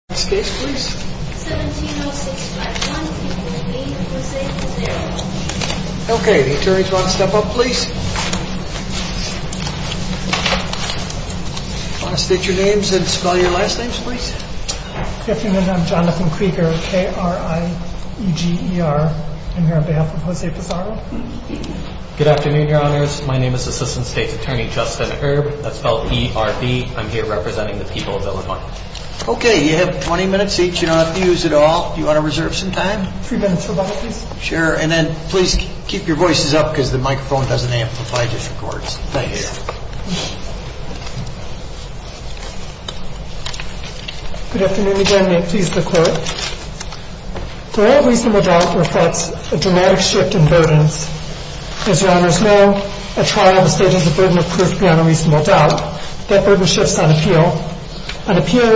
My name is Assistant State's Attorney Justin Erb. I'm here representing the people of Illinois. The rule doesn't just require you that far. It requires that you are registered to be a defendant. The trial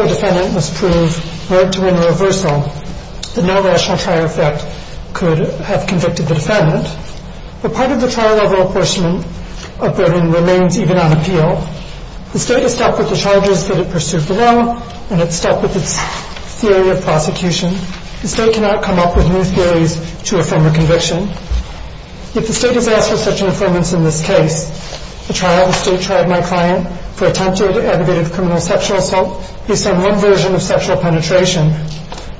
of a defendant must prove, word to word or reversal, that no rational trial effect could have convicted the defendant. But part of the trial level apportionment of burden remains even on appeal. The state has stepped with the charges that it pursued below and it's stepped with its theory of prosecution. The state cannot come up with new theories to affirm a conviction. If the state has asked for such an affirmance in this case, the trial of the state tried my client for attempted aggravated criminal sexual assault based on one version of sexual penetration.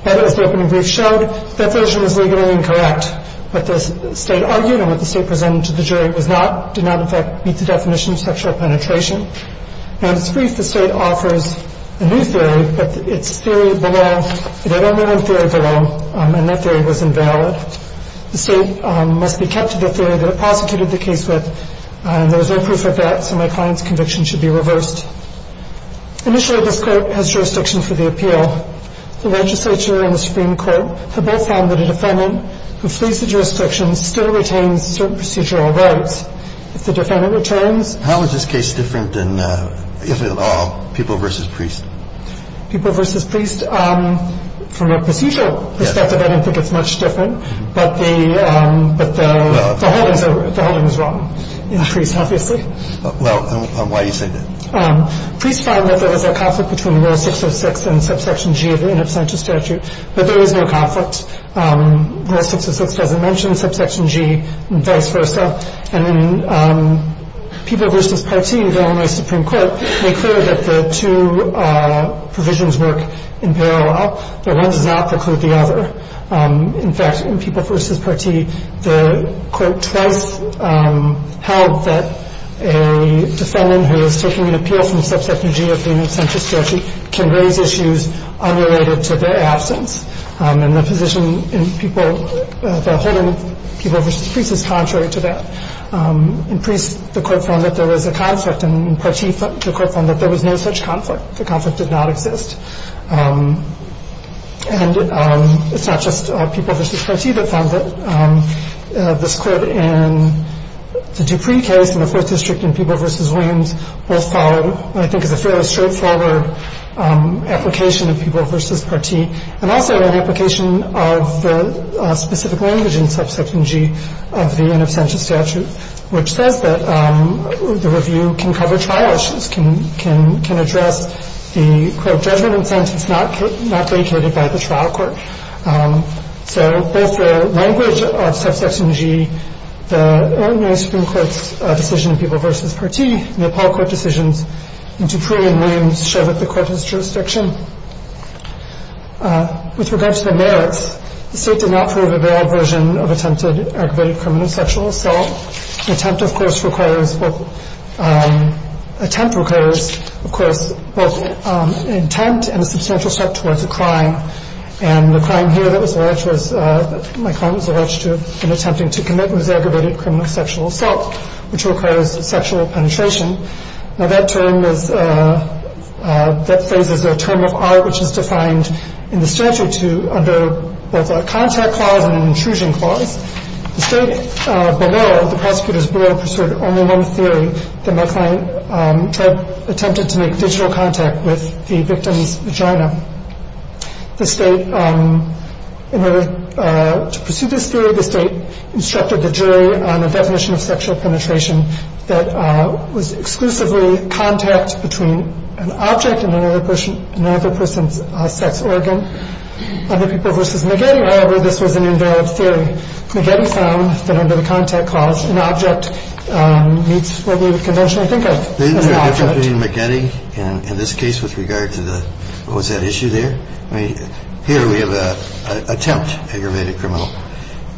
But as the opening brief showed, that version was legally incorrect. What the state argued and what the state presented to the jury was not, did not in fact meet the definition of sexual penetration. In its brief, the state offers a new theory, but its theory below, it had only one theory below, and that theory was invalid. The state must be kept to the theory that it prosecuted the case with. There is no doubt that this Court has jurisdiction for the appeal. The legislature and the Supreme Court have both found that a defendant who flees the jurisdiction still retains certain procedural rights. If the defendant returns. How is this case different than, if at all, People v. Priest? People v. Priest, from a procedural perspective, I don't think it's much different. But the, but the, the holding is wrong in Priest, obviously. Well, why do you say that? Priest found that there was a conflict between Rule 606 and Subsection G of the In Absentia Statute, but there is no conflict. Rule 606 doesn't mention Subsection G, and vice versa. And in People v. Partee, the Illinois Supreme Court, they cleared that the two provisions work in parallel, that one does not preclude the other. In fact, in People v. Partee, the Court twice held that a defendant who is taking an appeal from Subsection G of the In Absentia Statute can raise issues unrelated to their absence. And the position in People, the holding of People v. Priest is contrary to that. In Priest, the Court found that there was a conflict, and in Partee, the Court found that there was no such conflict. The conflict did not exist. And it's not just People v. Partee that found that. This Court in the Dupree case in the 4th District in People v. Williams both followed what I think is a fairly straightforward application of People v. Partee, and also an application of the specific language in Subsection G of the In Absentia Statute, which says that the review can cover trial issues, can, can, can address the court judgment in a sentence not vacated by the trial court. So both the language of Subsection G, the Illinois Supreme Court's decision in People v. Partee, and the Apollo Court decisions in Dupree and Williams show that the Court has jurisdiction. With regard to the merits, the State did not prove a veiled version of attempted aggravated criminal sexual assault. The attempt, of course, requires both, attempt and a substantial step towards a crime. And the crime here that was alleged was, my client was alleged to have been attempting to commit an aggravated criminal sexual assault, which requires sexual penetration. Now that term is, that phrase is a term of art which is defined in the statute to, under both a contact clause and an intrusion clause. The State below, the prosecutors below, pursued only one theory, that my client attempted to make digital contact with the victim's vagina. The State, in order to pursue this theory, the State instructed the jury on the definition of sexual penetration that was exclusively contact between an object and another person's sex organ. Under People v. McGeady, however, this was an invalid theory. McGeady found that under the contact clause, an object meets what we would conventionally think of as an object. Kennedy, in this case, with regard to the, what was that issue there? I mean, here we have an attempt, aggravated criminal.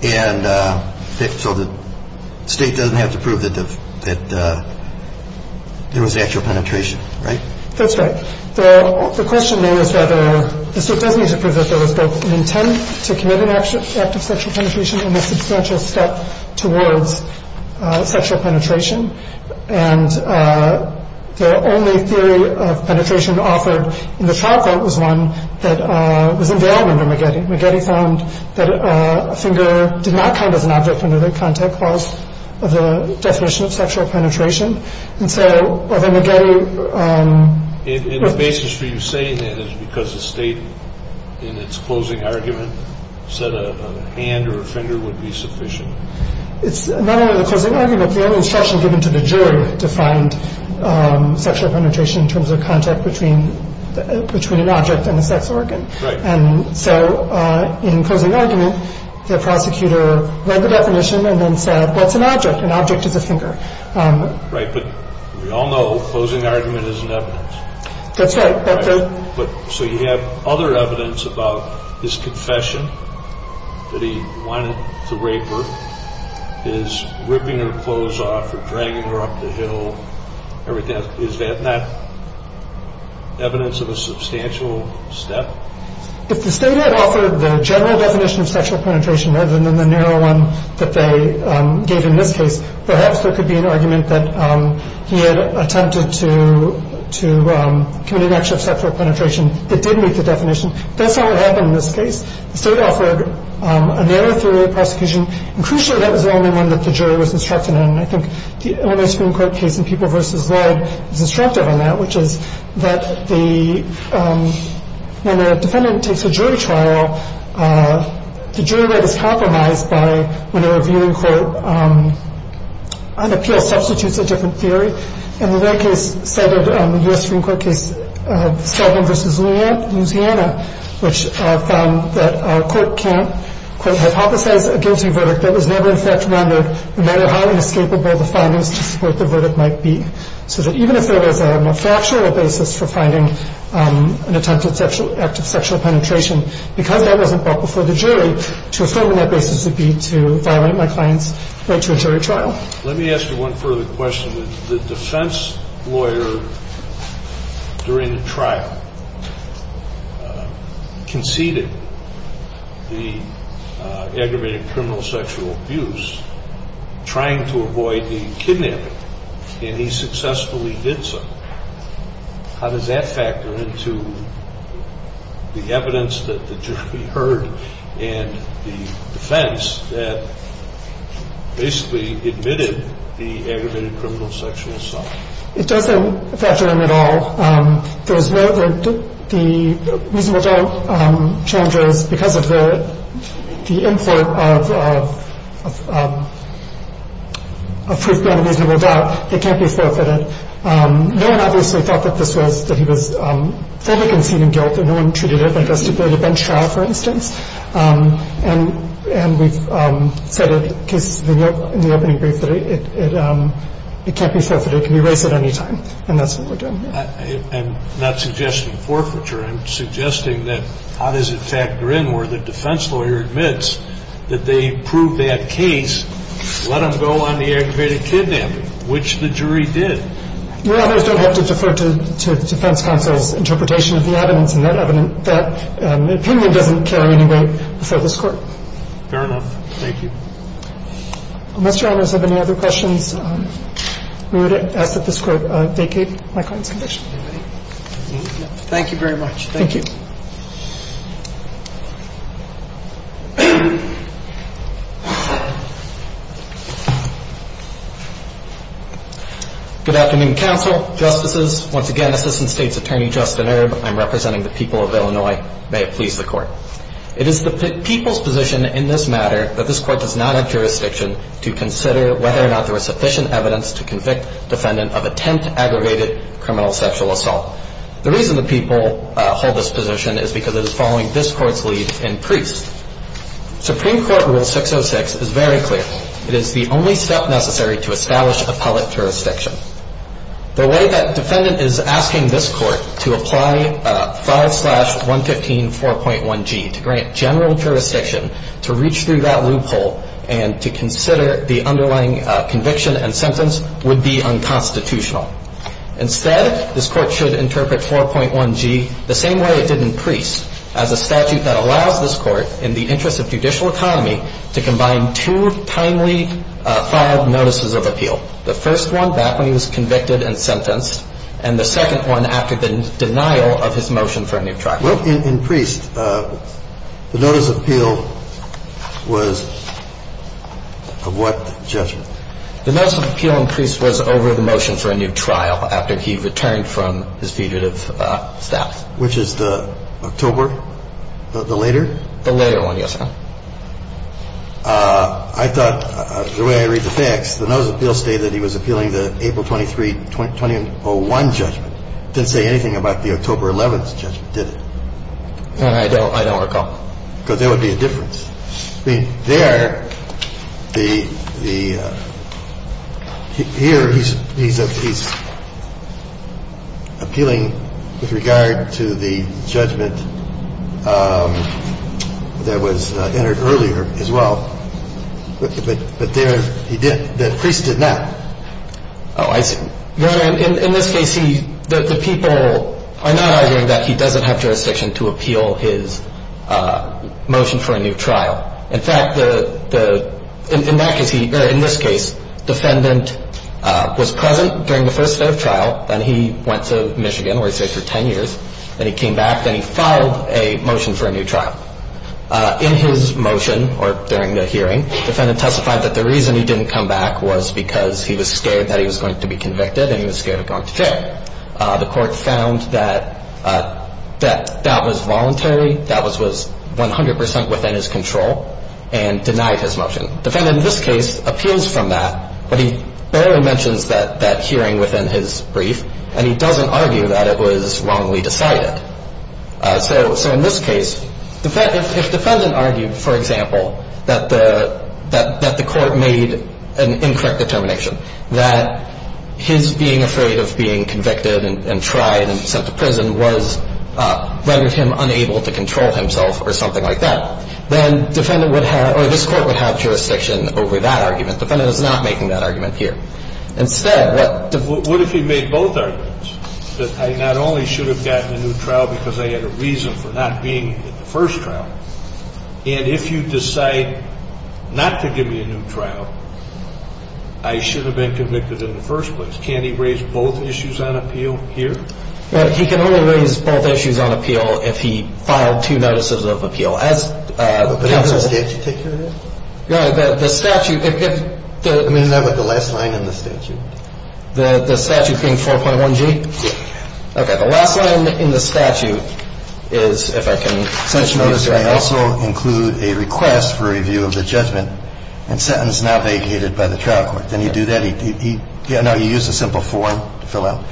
And so the State doesn't have to prove that there was actual penetration, right? That's right. The question there is whether the State does need to prove that there was both an intent to commit an act of sexual penetration and a substantial step towards sexual penetration. And the only theory of penetration offered in the trial court was one that was invalid under McGeady. McGeady found that a finger did not count as an object under the contact clause of the definition of sexual penetration. And so McGeady- And the basis for you saying that is because the State, in its closing argument, said a hand or a finger would be sufficient. It's not only the closing argument. The only instruction given to the jury defined sexual penetration in terms of contact between an object and a sex organ. Right. And so in closing argument, the prosecutor read the definition and then said, what's an object? An object is a finger. Right. But we all know closing argument isn't evidence. That's right. But the- Is ripping her clothes off or dragging her up the hill, everything else, is that not evidence of a substantial step? If the State had offered the general definition of sexual penetration rather than the narrow one that they gave in this case, perhaps there could be an argument that he had attempted to commit an act of sexual penetration that did meet the definition. That's not what happened in this case. The State offered a narrow theory of prosecution. And crucially, that was the only one that the jury was instructed in. And I think the Illinois Supreme Court case in People v. Lead is instructive on that, which is that the- when a defendant takes a jury trial, the jury rate is compromised by when a reviewing court on appeal substitutes a different theory. And the Lead case cited the U.S. Supreme Court case, Sullivan v. Louisiana, which found that a court can't, quote, hypothesize a guilty verdict that was never in fact rendered, no matter how inescapable the findings of what the verdict might be. So that even if there was a fractional basis for finding an attempted act of sexual penetration, because that wasn't brought before the jury, to affirm that basis would be to violate my client's right to a jury trial. Let me ask you one further question. The defense lawyer during the trial conceded the aggravated criminal sexual abuse, trying to avoid being kidnapped, and he successfully did so. How does that factor into the evidence that the jury heard and the defense that basically admitted the aggravated criminal sexual assault? It doesn't factor in at all. There was no- the reasonable doubt challenge is because of the import of proof beyond reasonable doubt, it can't be forfeited. No one obviously thought that this was- that he was fully conceding guilt, that no one treated it like a stipulated bench trial, for instance. And we've said in cases in the opening brief that it can't be forfeited, it can be erased at any time, and that's what we're doing here. I'm not suggesting forfeiture. I'm suggesting that how does it factor in where the defense lawyer admits that they proved that case, let them go on the aggravated kidnapping, which the jury did. Well, those don't have to defer to the defense counsel's interpretation of the evidence and that opinion doesn't carry any weight before this Court. Fair enough. Thank you. Unless Your Honors have any other questions, we would ask that this Court vacate my consultation. Thank you very much. Thank you. Good afternoon, counsel, justices. Once again, Assistant State's Attorney Justin Erb, I'm representing the people of Illinois. May it please the Court. It is the people's position in this matter that this Court does not have jurisdiction to consider whether or not there was sufficient evidence to convict defendant of attempt-aggravated criminal sexual assault. The reason the people hold this position is because it is following this Court's lead in Priest. Supreme Court Rule 606 is very clear. It is the only step necessary to establish appellate jurisdiction. The way that defendant is asking this Court to apply 5-115-4.1g to grant general jurisdiction to reach through that loophole and to consider the underlying conviction and sentence would be unconstitutional. Instead, this Court should interpret 4.1g the same way it did in Priest, as a statute that allows this Court, in the interest of judicial economy, to combine two timely five notices of appeal. The first one back when he was convicted and sentenced, and the second one after the denial of his motion for a new trial. Well, in Priest, the notice of appeal was of what judgment? The notice of appeal in Priest was over the motion for a new trial after he returned from his fugitive status. Which is the October, the later? The later one, yes, sir. I thought, the way I read the facts, the notice of appeal stated that he was appealing the April 23, 2001 judgment. It didn't say anything about the October 11th judgment, did it? I don't recall. Because there would be a difference. I mean, there, the, the, here he's appealing with regard to the judgment that was entered earlier as well. But there, he didn't, Priest did not. Oh, I see. Your Honor, in this case, he, the people are not arguing that he doesn't have jurisdiction to appeal his motion for a new trial. In fact, the, the, in that case, he, or in this case, defendant was present during the first day of trial, then he went to Michigan where he stayed for 10 years, then he came back, then he filed a motion for a new trial. In his motion, or during the hearing, defendant testified that the reason he didn't come back was because he was scared that he was going to be convicted and he was scared of going to jail. The court found that, that, that was voluntary, that was, was 100% within his control, and denied his motion. Defendant in this case appeals from that, but he barely mentions that, that hearing within his brief, and he doesn't argue that it was wrongly decided. So, so in this case, defendant, if defendant argued, for example, that the, that, that the court made an incorrect determination, that his being afraid of being convicted and, and tried and sent to prison was, rendered him unable to control himself or something like that, then defendant would have, or this Court would have jurisdiction over that argument. Defendant is not making that argument here. Instead, what. What if he made both arguments? That I not only should have gotten a new trial because I had a reason for not being in the first trial, and if you decide not to give me a new trial, I should have been convicted in the first place. Can't he raise both issues on appeal here? Well, he can only raise both issues on appeal if he filed two notices of appeal. As counsel. But doesn't the statute take care of that? No, the, the statute, if, if, the. I mean, is that what the last line in the statute? The, the statute being 4.1g? Yes. Okay. The last line in the statute is, if I can. Such notice may also include a request for review of the judgment and sentence not vacated by the trial court. Didn't he do that? He, he, he. No, he used a simple form to fill out.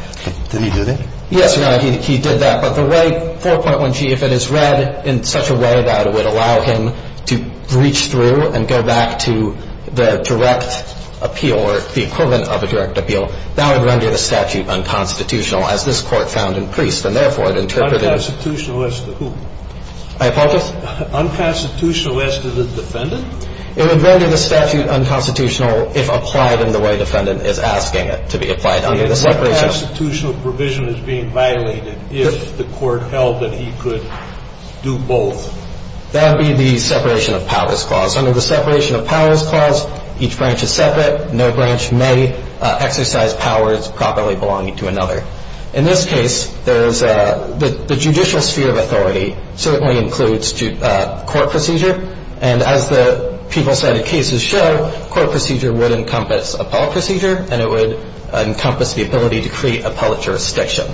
Didn't he do that? Yes, Your Honor. He, he did that. But the way 4.1g, if it is read in such a way that it would allow him to reach through and go back to the direct appeal or the equivalent of a direct appeal, that would render the statute unconstitutional, as this Court found in Priest and, therefore, it interpreted. Unconstitutional as to who? I apologize? Unconstitutional as to the defendant? It would render the statute unconstitutional if applied in the way defendant is asking it to be applied under the separation. The unconstitutional provision is being violated if the Court held that he could do both. That would be the separation of powers clause. Under the separation of powers clause, each branch is separate. No branch may exercise powers properly belonging to another. In this case, there is a, the judicial sphere of authority certainly includes court procedure. And as the people cited cases show, court procedure would encompass appellate procedure and it would encompass the ability to create appellate jurisdiction.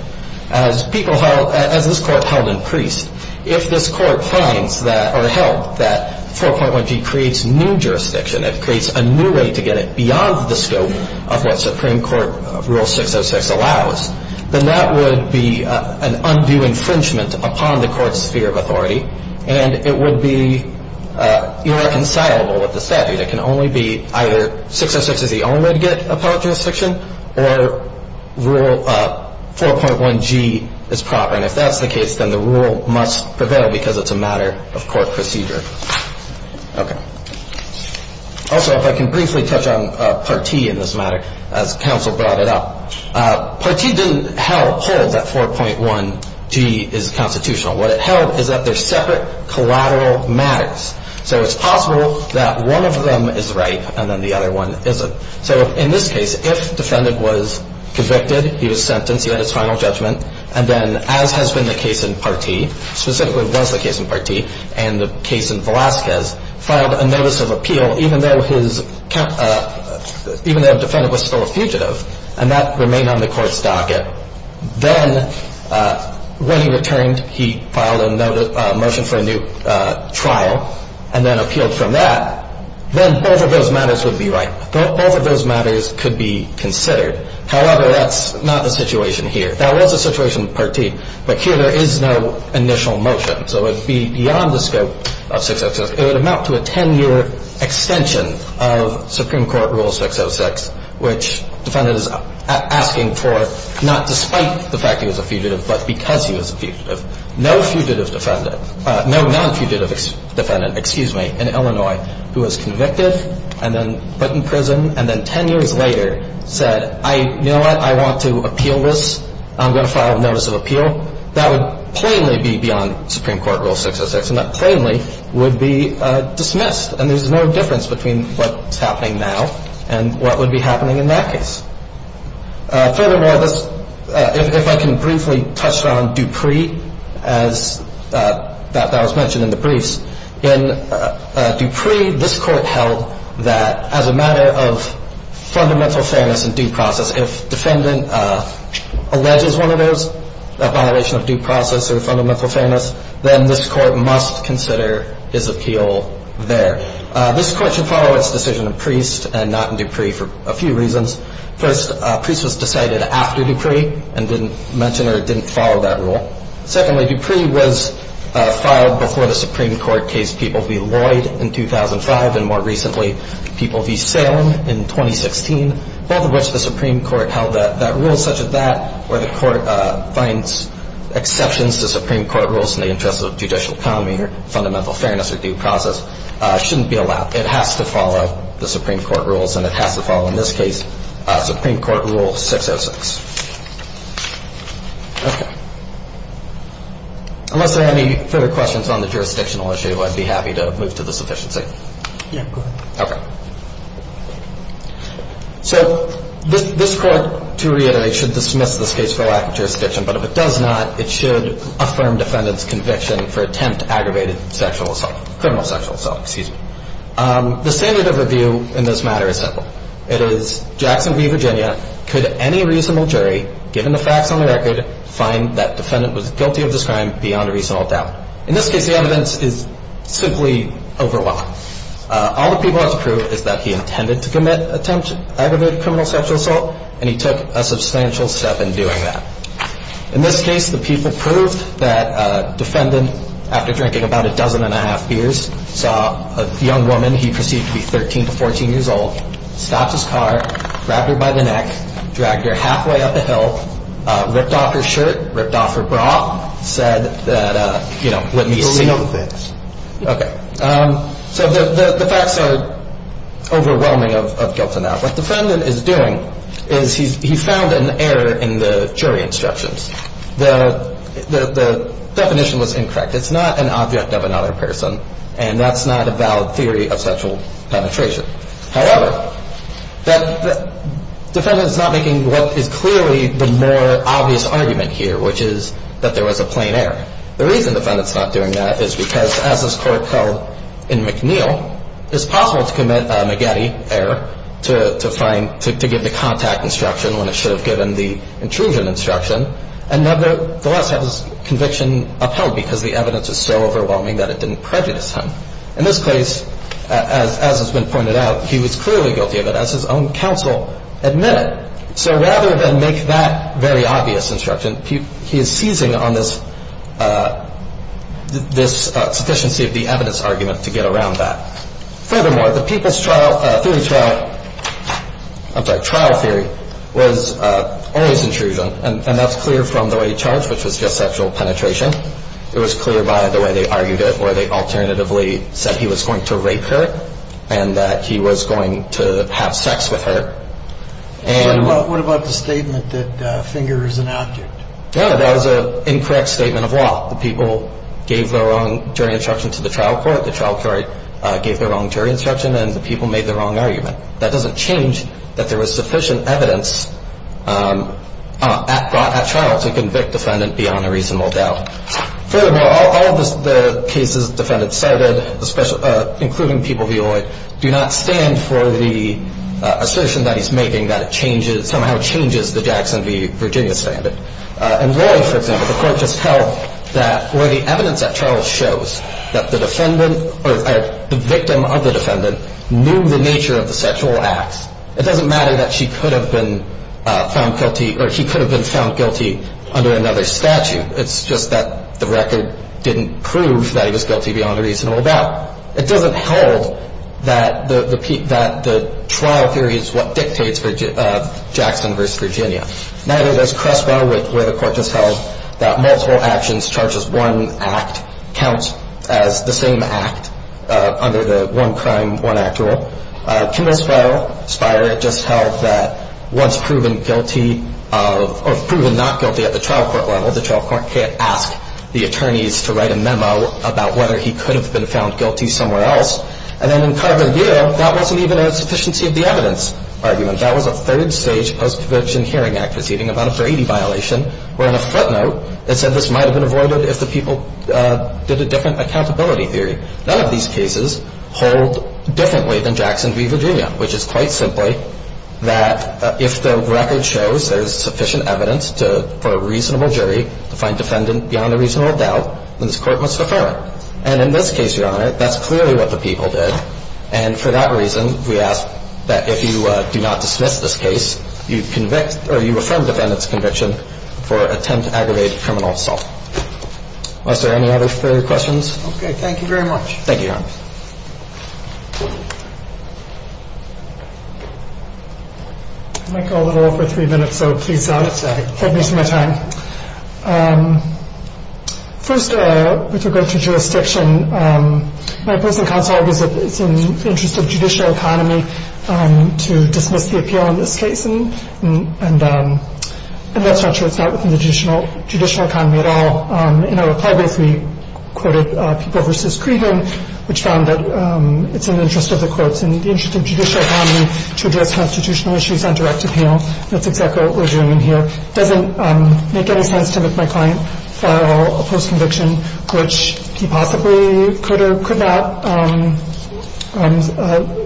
As people held, as this Court held in Priest, if this Court finds that or held that 4.1g creates new jurisdiction, it creates a new way to get it beyond the scope of what Supreme Court Rule 606 allows, then that would be an undue infringement upon the Court's sphere of authority and it would be irreconcilable with the statute. So, as I said, it can only be either, 606 is the only way to get appellate jurisdiction or Rule 4.1g is proper and if that's the case, then the rule must prevail because it's a matter of court procedure. Okay. Also, if I can briefly touch on Part T in this matter, as counsel brought it up. Part T didn't hold that 4.1g is constitutional. What it held is that they're separate collateral matters. So, it's possible that one of them is right and then the other one isn't. So, in this case, if defendant was convicted, he was sentenced, he had his final judgment and then as has been the case in Part T, specifically was the case in Part T and the case in Velazquez, filed a notice of appeal even though his, even though the defendant was still a fugitive and that remained on the Court's docket. Then, when he returned, he filed a motion for a new trial and then appealed from that. Then both of those matters would be right. Both of those matters could be considered. However, that's not the situation here. That was the situation in Part T, but here there is no initial motion. So, it would be beyond the scope of 606. It would amount to a 10-year extension of Supreme Court Rule 606, which defendant is asking for not despite the fact he was a fugitive, but because he was a fugitive. No fugitive defendant, no non-fugitive defendant, excuse me, in Illinois who was convicted and then put in prison and then 10 years later said, you know what, I want to appeal this. So, that would plainly be beyond Supreme Court Rule 606 and that plainly would be dismissed and there's no difference between what's happening now and what would be happening in that case. Furthermore, if I can briefly touch on Dupree as that was mentioned in the briefs. In Dupree, this Court held that as a matter of fundamental fairness and due process, if defendant alleges one of those, a violation of due process or fundamental fairness, then this Court must consider his appeal there. This Court should follow its decision in Priest and not in Dupree for a few reasons. First, Priest was decided after Dupree and didn't mention or didn't follow that rule. Secondly, Dupree was filed before the Supreme Court case People v. Lloyd in 2005 and more recently, People v. Salem in 2016, both of which the Supreme Court held that that rule such that where the Court finds exceptions to Supreme Court rules in the interest of judicial commoning or fundamental fairness or due process shouldn't be allowed. It has to follow the Supreme Court rules and it has to follow, in this case, Supreme Court Rule 606. Okay. Unless there are any further questions on the jurisdictional issue, I'd be happy to move to the sufficiency. Yeah, go ahead. Okay. So this Court, to reiterate, should dismiss this case for lack of jurisdiction, but if it does not, it should affirm defendant's conviction for attempt aggravated sexual assault, criminal sexual assault, excuse me. The standard of review in this matter is simple. It is Jackson v. Virginia. Could any reasonable jury, given the facts on the record, find that defendant was guilty of this crime beyond a reasonable doubt? In this case, the evidence is simply overwhelming. All the people have to prove is that he intended to commit attempt aggravated criminal sexual assault and he took a substantial step in doing that. In this case, the people proved that defendant, after drinking about a dozen and a half beers, saw a young woman he perceived to be 13 to 14 years old, stopped his car, grabbed her by the neck, dragged her halfway up a hill, ripped off her shirt, ripped off her bra, said that, you know, let me see. Believe this. Okay. So the facts are overwhelming of guilt and doubt. What the defendant is doing is he found an error in the jury instructions. The definition was incorrect. It's not an object of another person, and that's not a valid theory of sexual penetration. However, the defendant is not making what is clearly the more obvious argument here, which is that there was a plain error. The reason the defendant's not doing that is because, as this Court held in McNeil, it's possible to commit a McGetty error to find, to give the contact instruction when it should have given the intrusion instruction, and nevertheless have his conviction upheld because the evidence is so overwhelming that it didn't prejudice him. In this case, as has been pointed out, he was clearly guilty of it, as his own counsel admitted. So rather than make that very obvious instruction, he is seizing on this sufficiency of the evidence argument to get around that. Furthermore, the people's trial, theory trial, I'm sorry, trial theory was always intrusion, and that's clear from the way he charged, which was just sexual penetration. It was clear by the way they argued it, where they alternatively said he was going to rape her and that he was going to have sex with her. What about the statement that a finger is an object? Yeah, that was an incorrect statement of law. The people gave their own jury instruction to the trial court. The trial court gave their own jury instruction, and the people made their own argument. That doesn't change that there was sufficient evidence at trial to convict the defendant beyond a reasonable doubt. Furthermore, all of the cases the defendant cited, including People v. Lloyd, do not stand for the assertion that he's making that it somehow changes the Jackson v. Virginia standard. In Lloyd, for example, the court just held that where the evidence at trial shows that the defendant or the victim of the defendant knew the nature of the sexual acts, it doesn't matter that he could have been found guilty under another statute. It's just that the record didn't prove that he was guilty beyond a reasonable doubt. It doesn't hold that the trial theory is what dictates Jackson v. Virginia. Neither does Crespo, where the court just held that multiple actions charges one act count as the same act under the one-crime, one-act rule. Kimball Spiro just held that once proven guilty or proven not guilty at the trial court level, the trial court can't ask the attorneys to write a memo about whether he could have been found guilty somewhere else. And then in Carver View, that wasn't even a sufficiency of the evidence argument. That was a third-stage post-conviction hearing act proceeding, about a 480 violation, where on a footnote it said this might have been avoided if the people did a different accountability theory. None of these cases hold differently than Jackson v. Virginia, which is quite simply that if the record shows there's sufficient evidence for a reasonable jury to find defendant beyond a reasonable doubt, then this court must defer it. And in this case, Your Honor, that's clearly what the people did. And for that reason, we ask that if you do not dismiss this case, you affirm defendant's conviction for attempt to aggravate criminal assault. Are there any other further questions? Okay, thank you very much. Thank you, Your Honor. I might go a little over three minutes, so please hold me for my time. First, with regard to jurisdiction, my post in counsel argues that it's in the interest of judicial economy to dismiss the appeal in this case. And that's not true. It's not within the judicial economy at all. In our reply brief, we quoted People v. Creighton, which found that it's in the interest of the courts and the interest of judicial economy to address constitutional issues on direct appeal. That's exactly what we're doing here. It doesn't make any sense to make my client file a post-conviction, which he possibly could or could not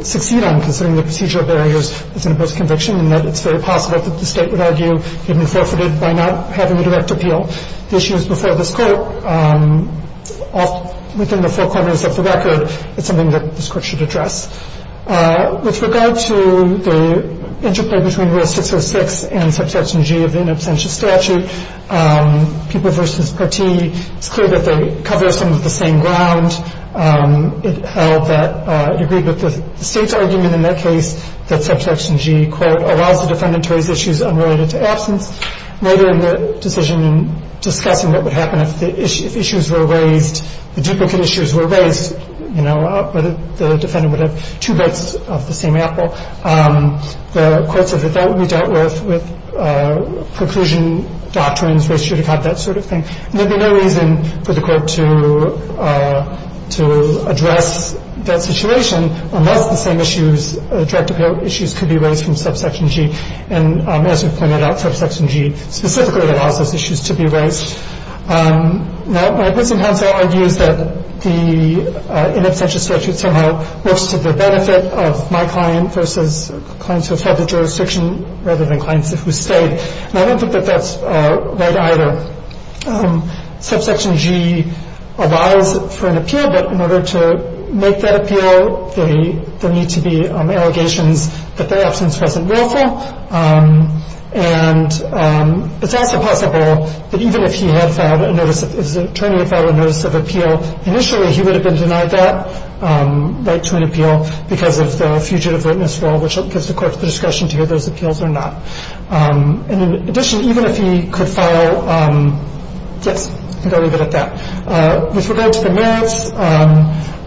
succeed on, considering the procedure of barriers that's in a post-conviction, and that it's very possible that the State would argue he'd been forfeited by not having a direct appeal. The issue is before this Court. Within the four corners of the record, it's something that this Court should address. With regard to the interplay between Rule 606 and Subsection G of the in absentia statute, People v. Creighton, it's clear that they cover some of the same ground. It held that it agreed with the State's argument in that case that Subsection G, quote, allows the defendant to raise issues unrelated to absence. Later in the decision in discussing what would happen if issues were raised, you know, whether the defendant would have two bites of the same apple, the Court said that that would be dealt with with preclusion doctrines, where he should have had that sort of thing. And there would be no reason for the Court to address that situation unless the same issues, direct appeal issues, could be raised from Subsection G. And as we've pointed out, Subsection G specifically allows those issues to be raised. Now, my opposing counsel argues that the in absentia statute somehow works to the benefit of my client versus clients who have held the jurisdiction rather than clients who stayed. And I don't think that that's right either. Subsection G allows for an appeal, but in order to make that appeal, there need to be allegations that their absence wasn't willful. And it's also possible that even if he had filed a notice, if his attorney had filed a notice of appeal, initially he would have been denied that right to an appeal because of the fugitive witness rule, which gives the Court the discretion to hear those appeals or not. And in addition, even if he could file, yes, I think I'll leave it at that. With regard to the merits,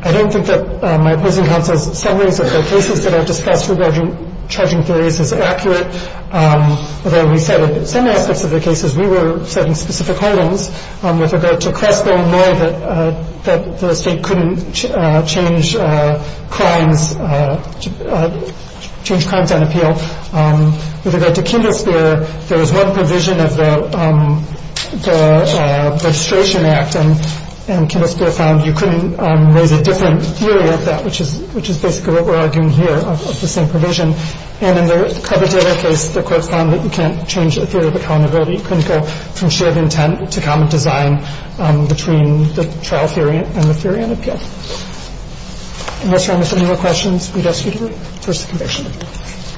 I don't think that my opposing counsel's summaries of the cases that I've discussed regarding charging theories is accurate, although we said in some aspects of the cases we were setting specific holdings. With regard to Crespo and Loy, that the state couldn't change crimes on appeal. With regard to Kindlespear, there was one provision of the Registration Act, and Kindlespear found you couldn't raise a different theory of that, which is basically what we're arguing here, of the same provision. And in the Carbondale case, the Court found that you can't change the theory of accountability. You couldn't go from shared intent to common design between the trial theory and the theory on appeal. Unless there are any more questions, we'd ask you to reverse the convention.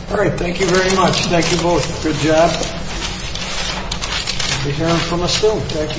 All right. Thank you very much. Thank you both. Good job. You'll be hearing from us soon. Thank you.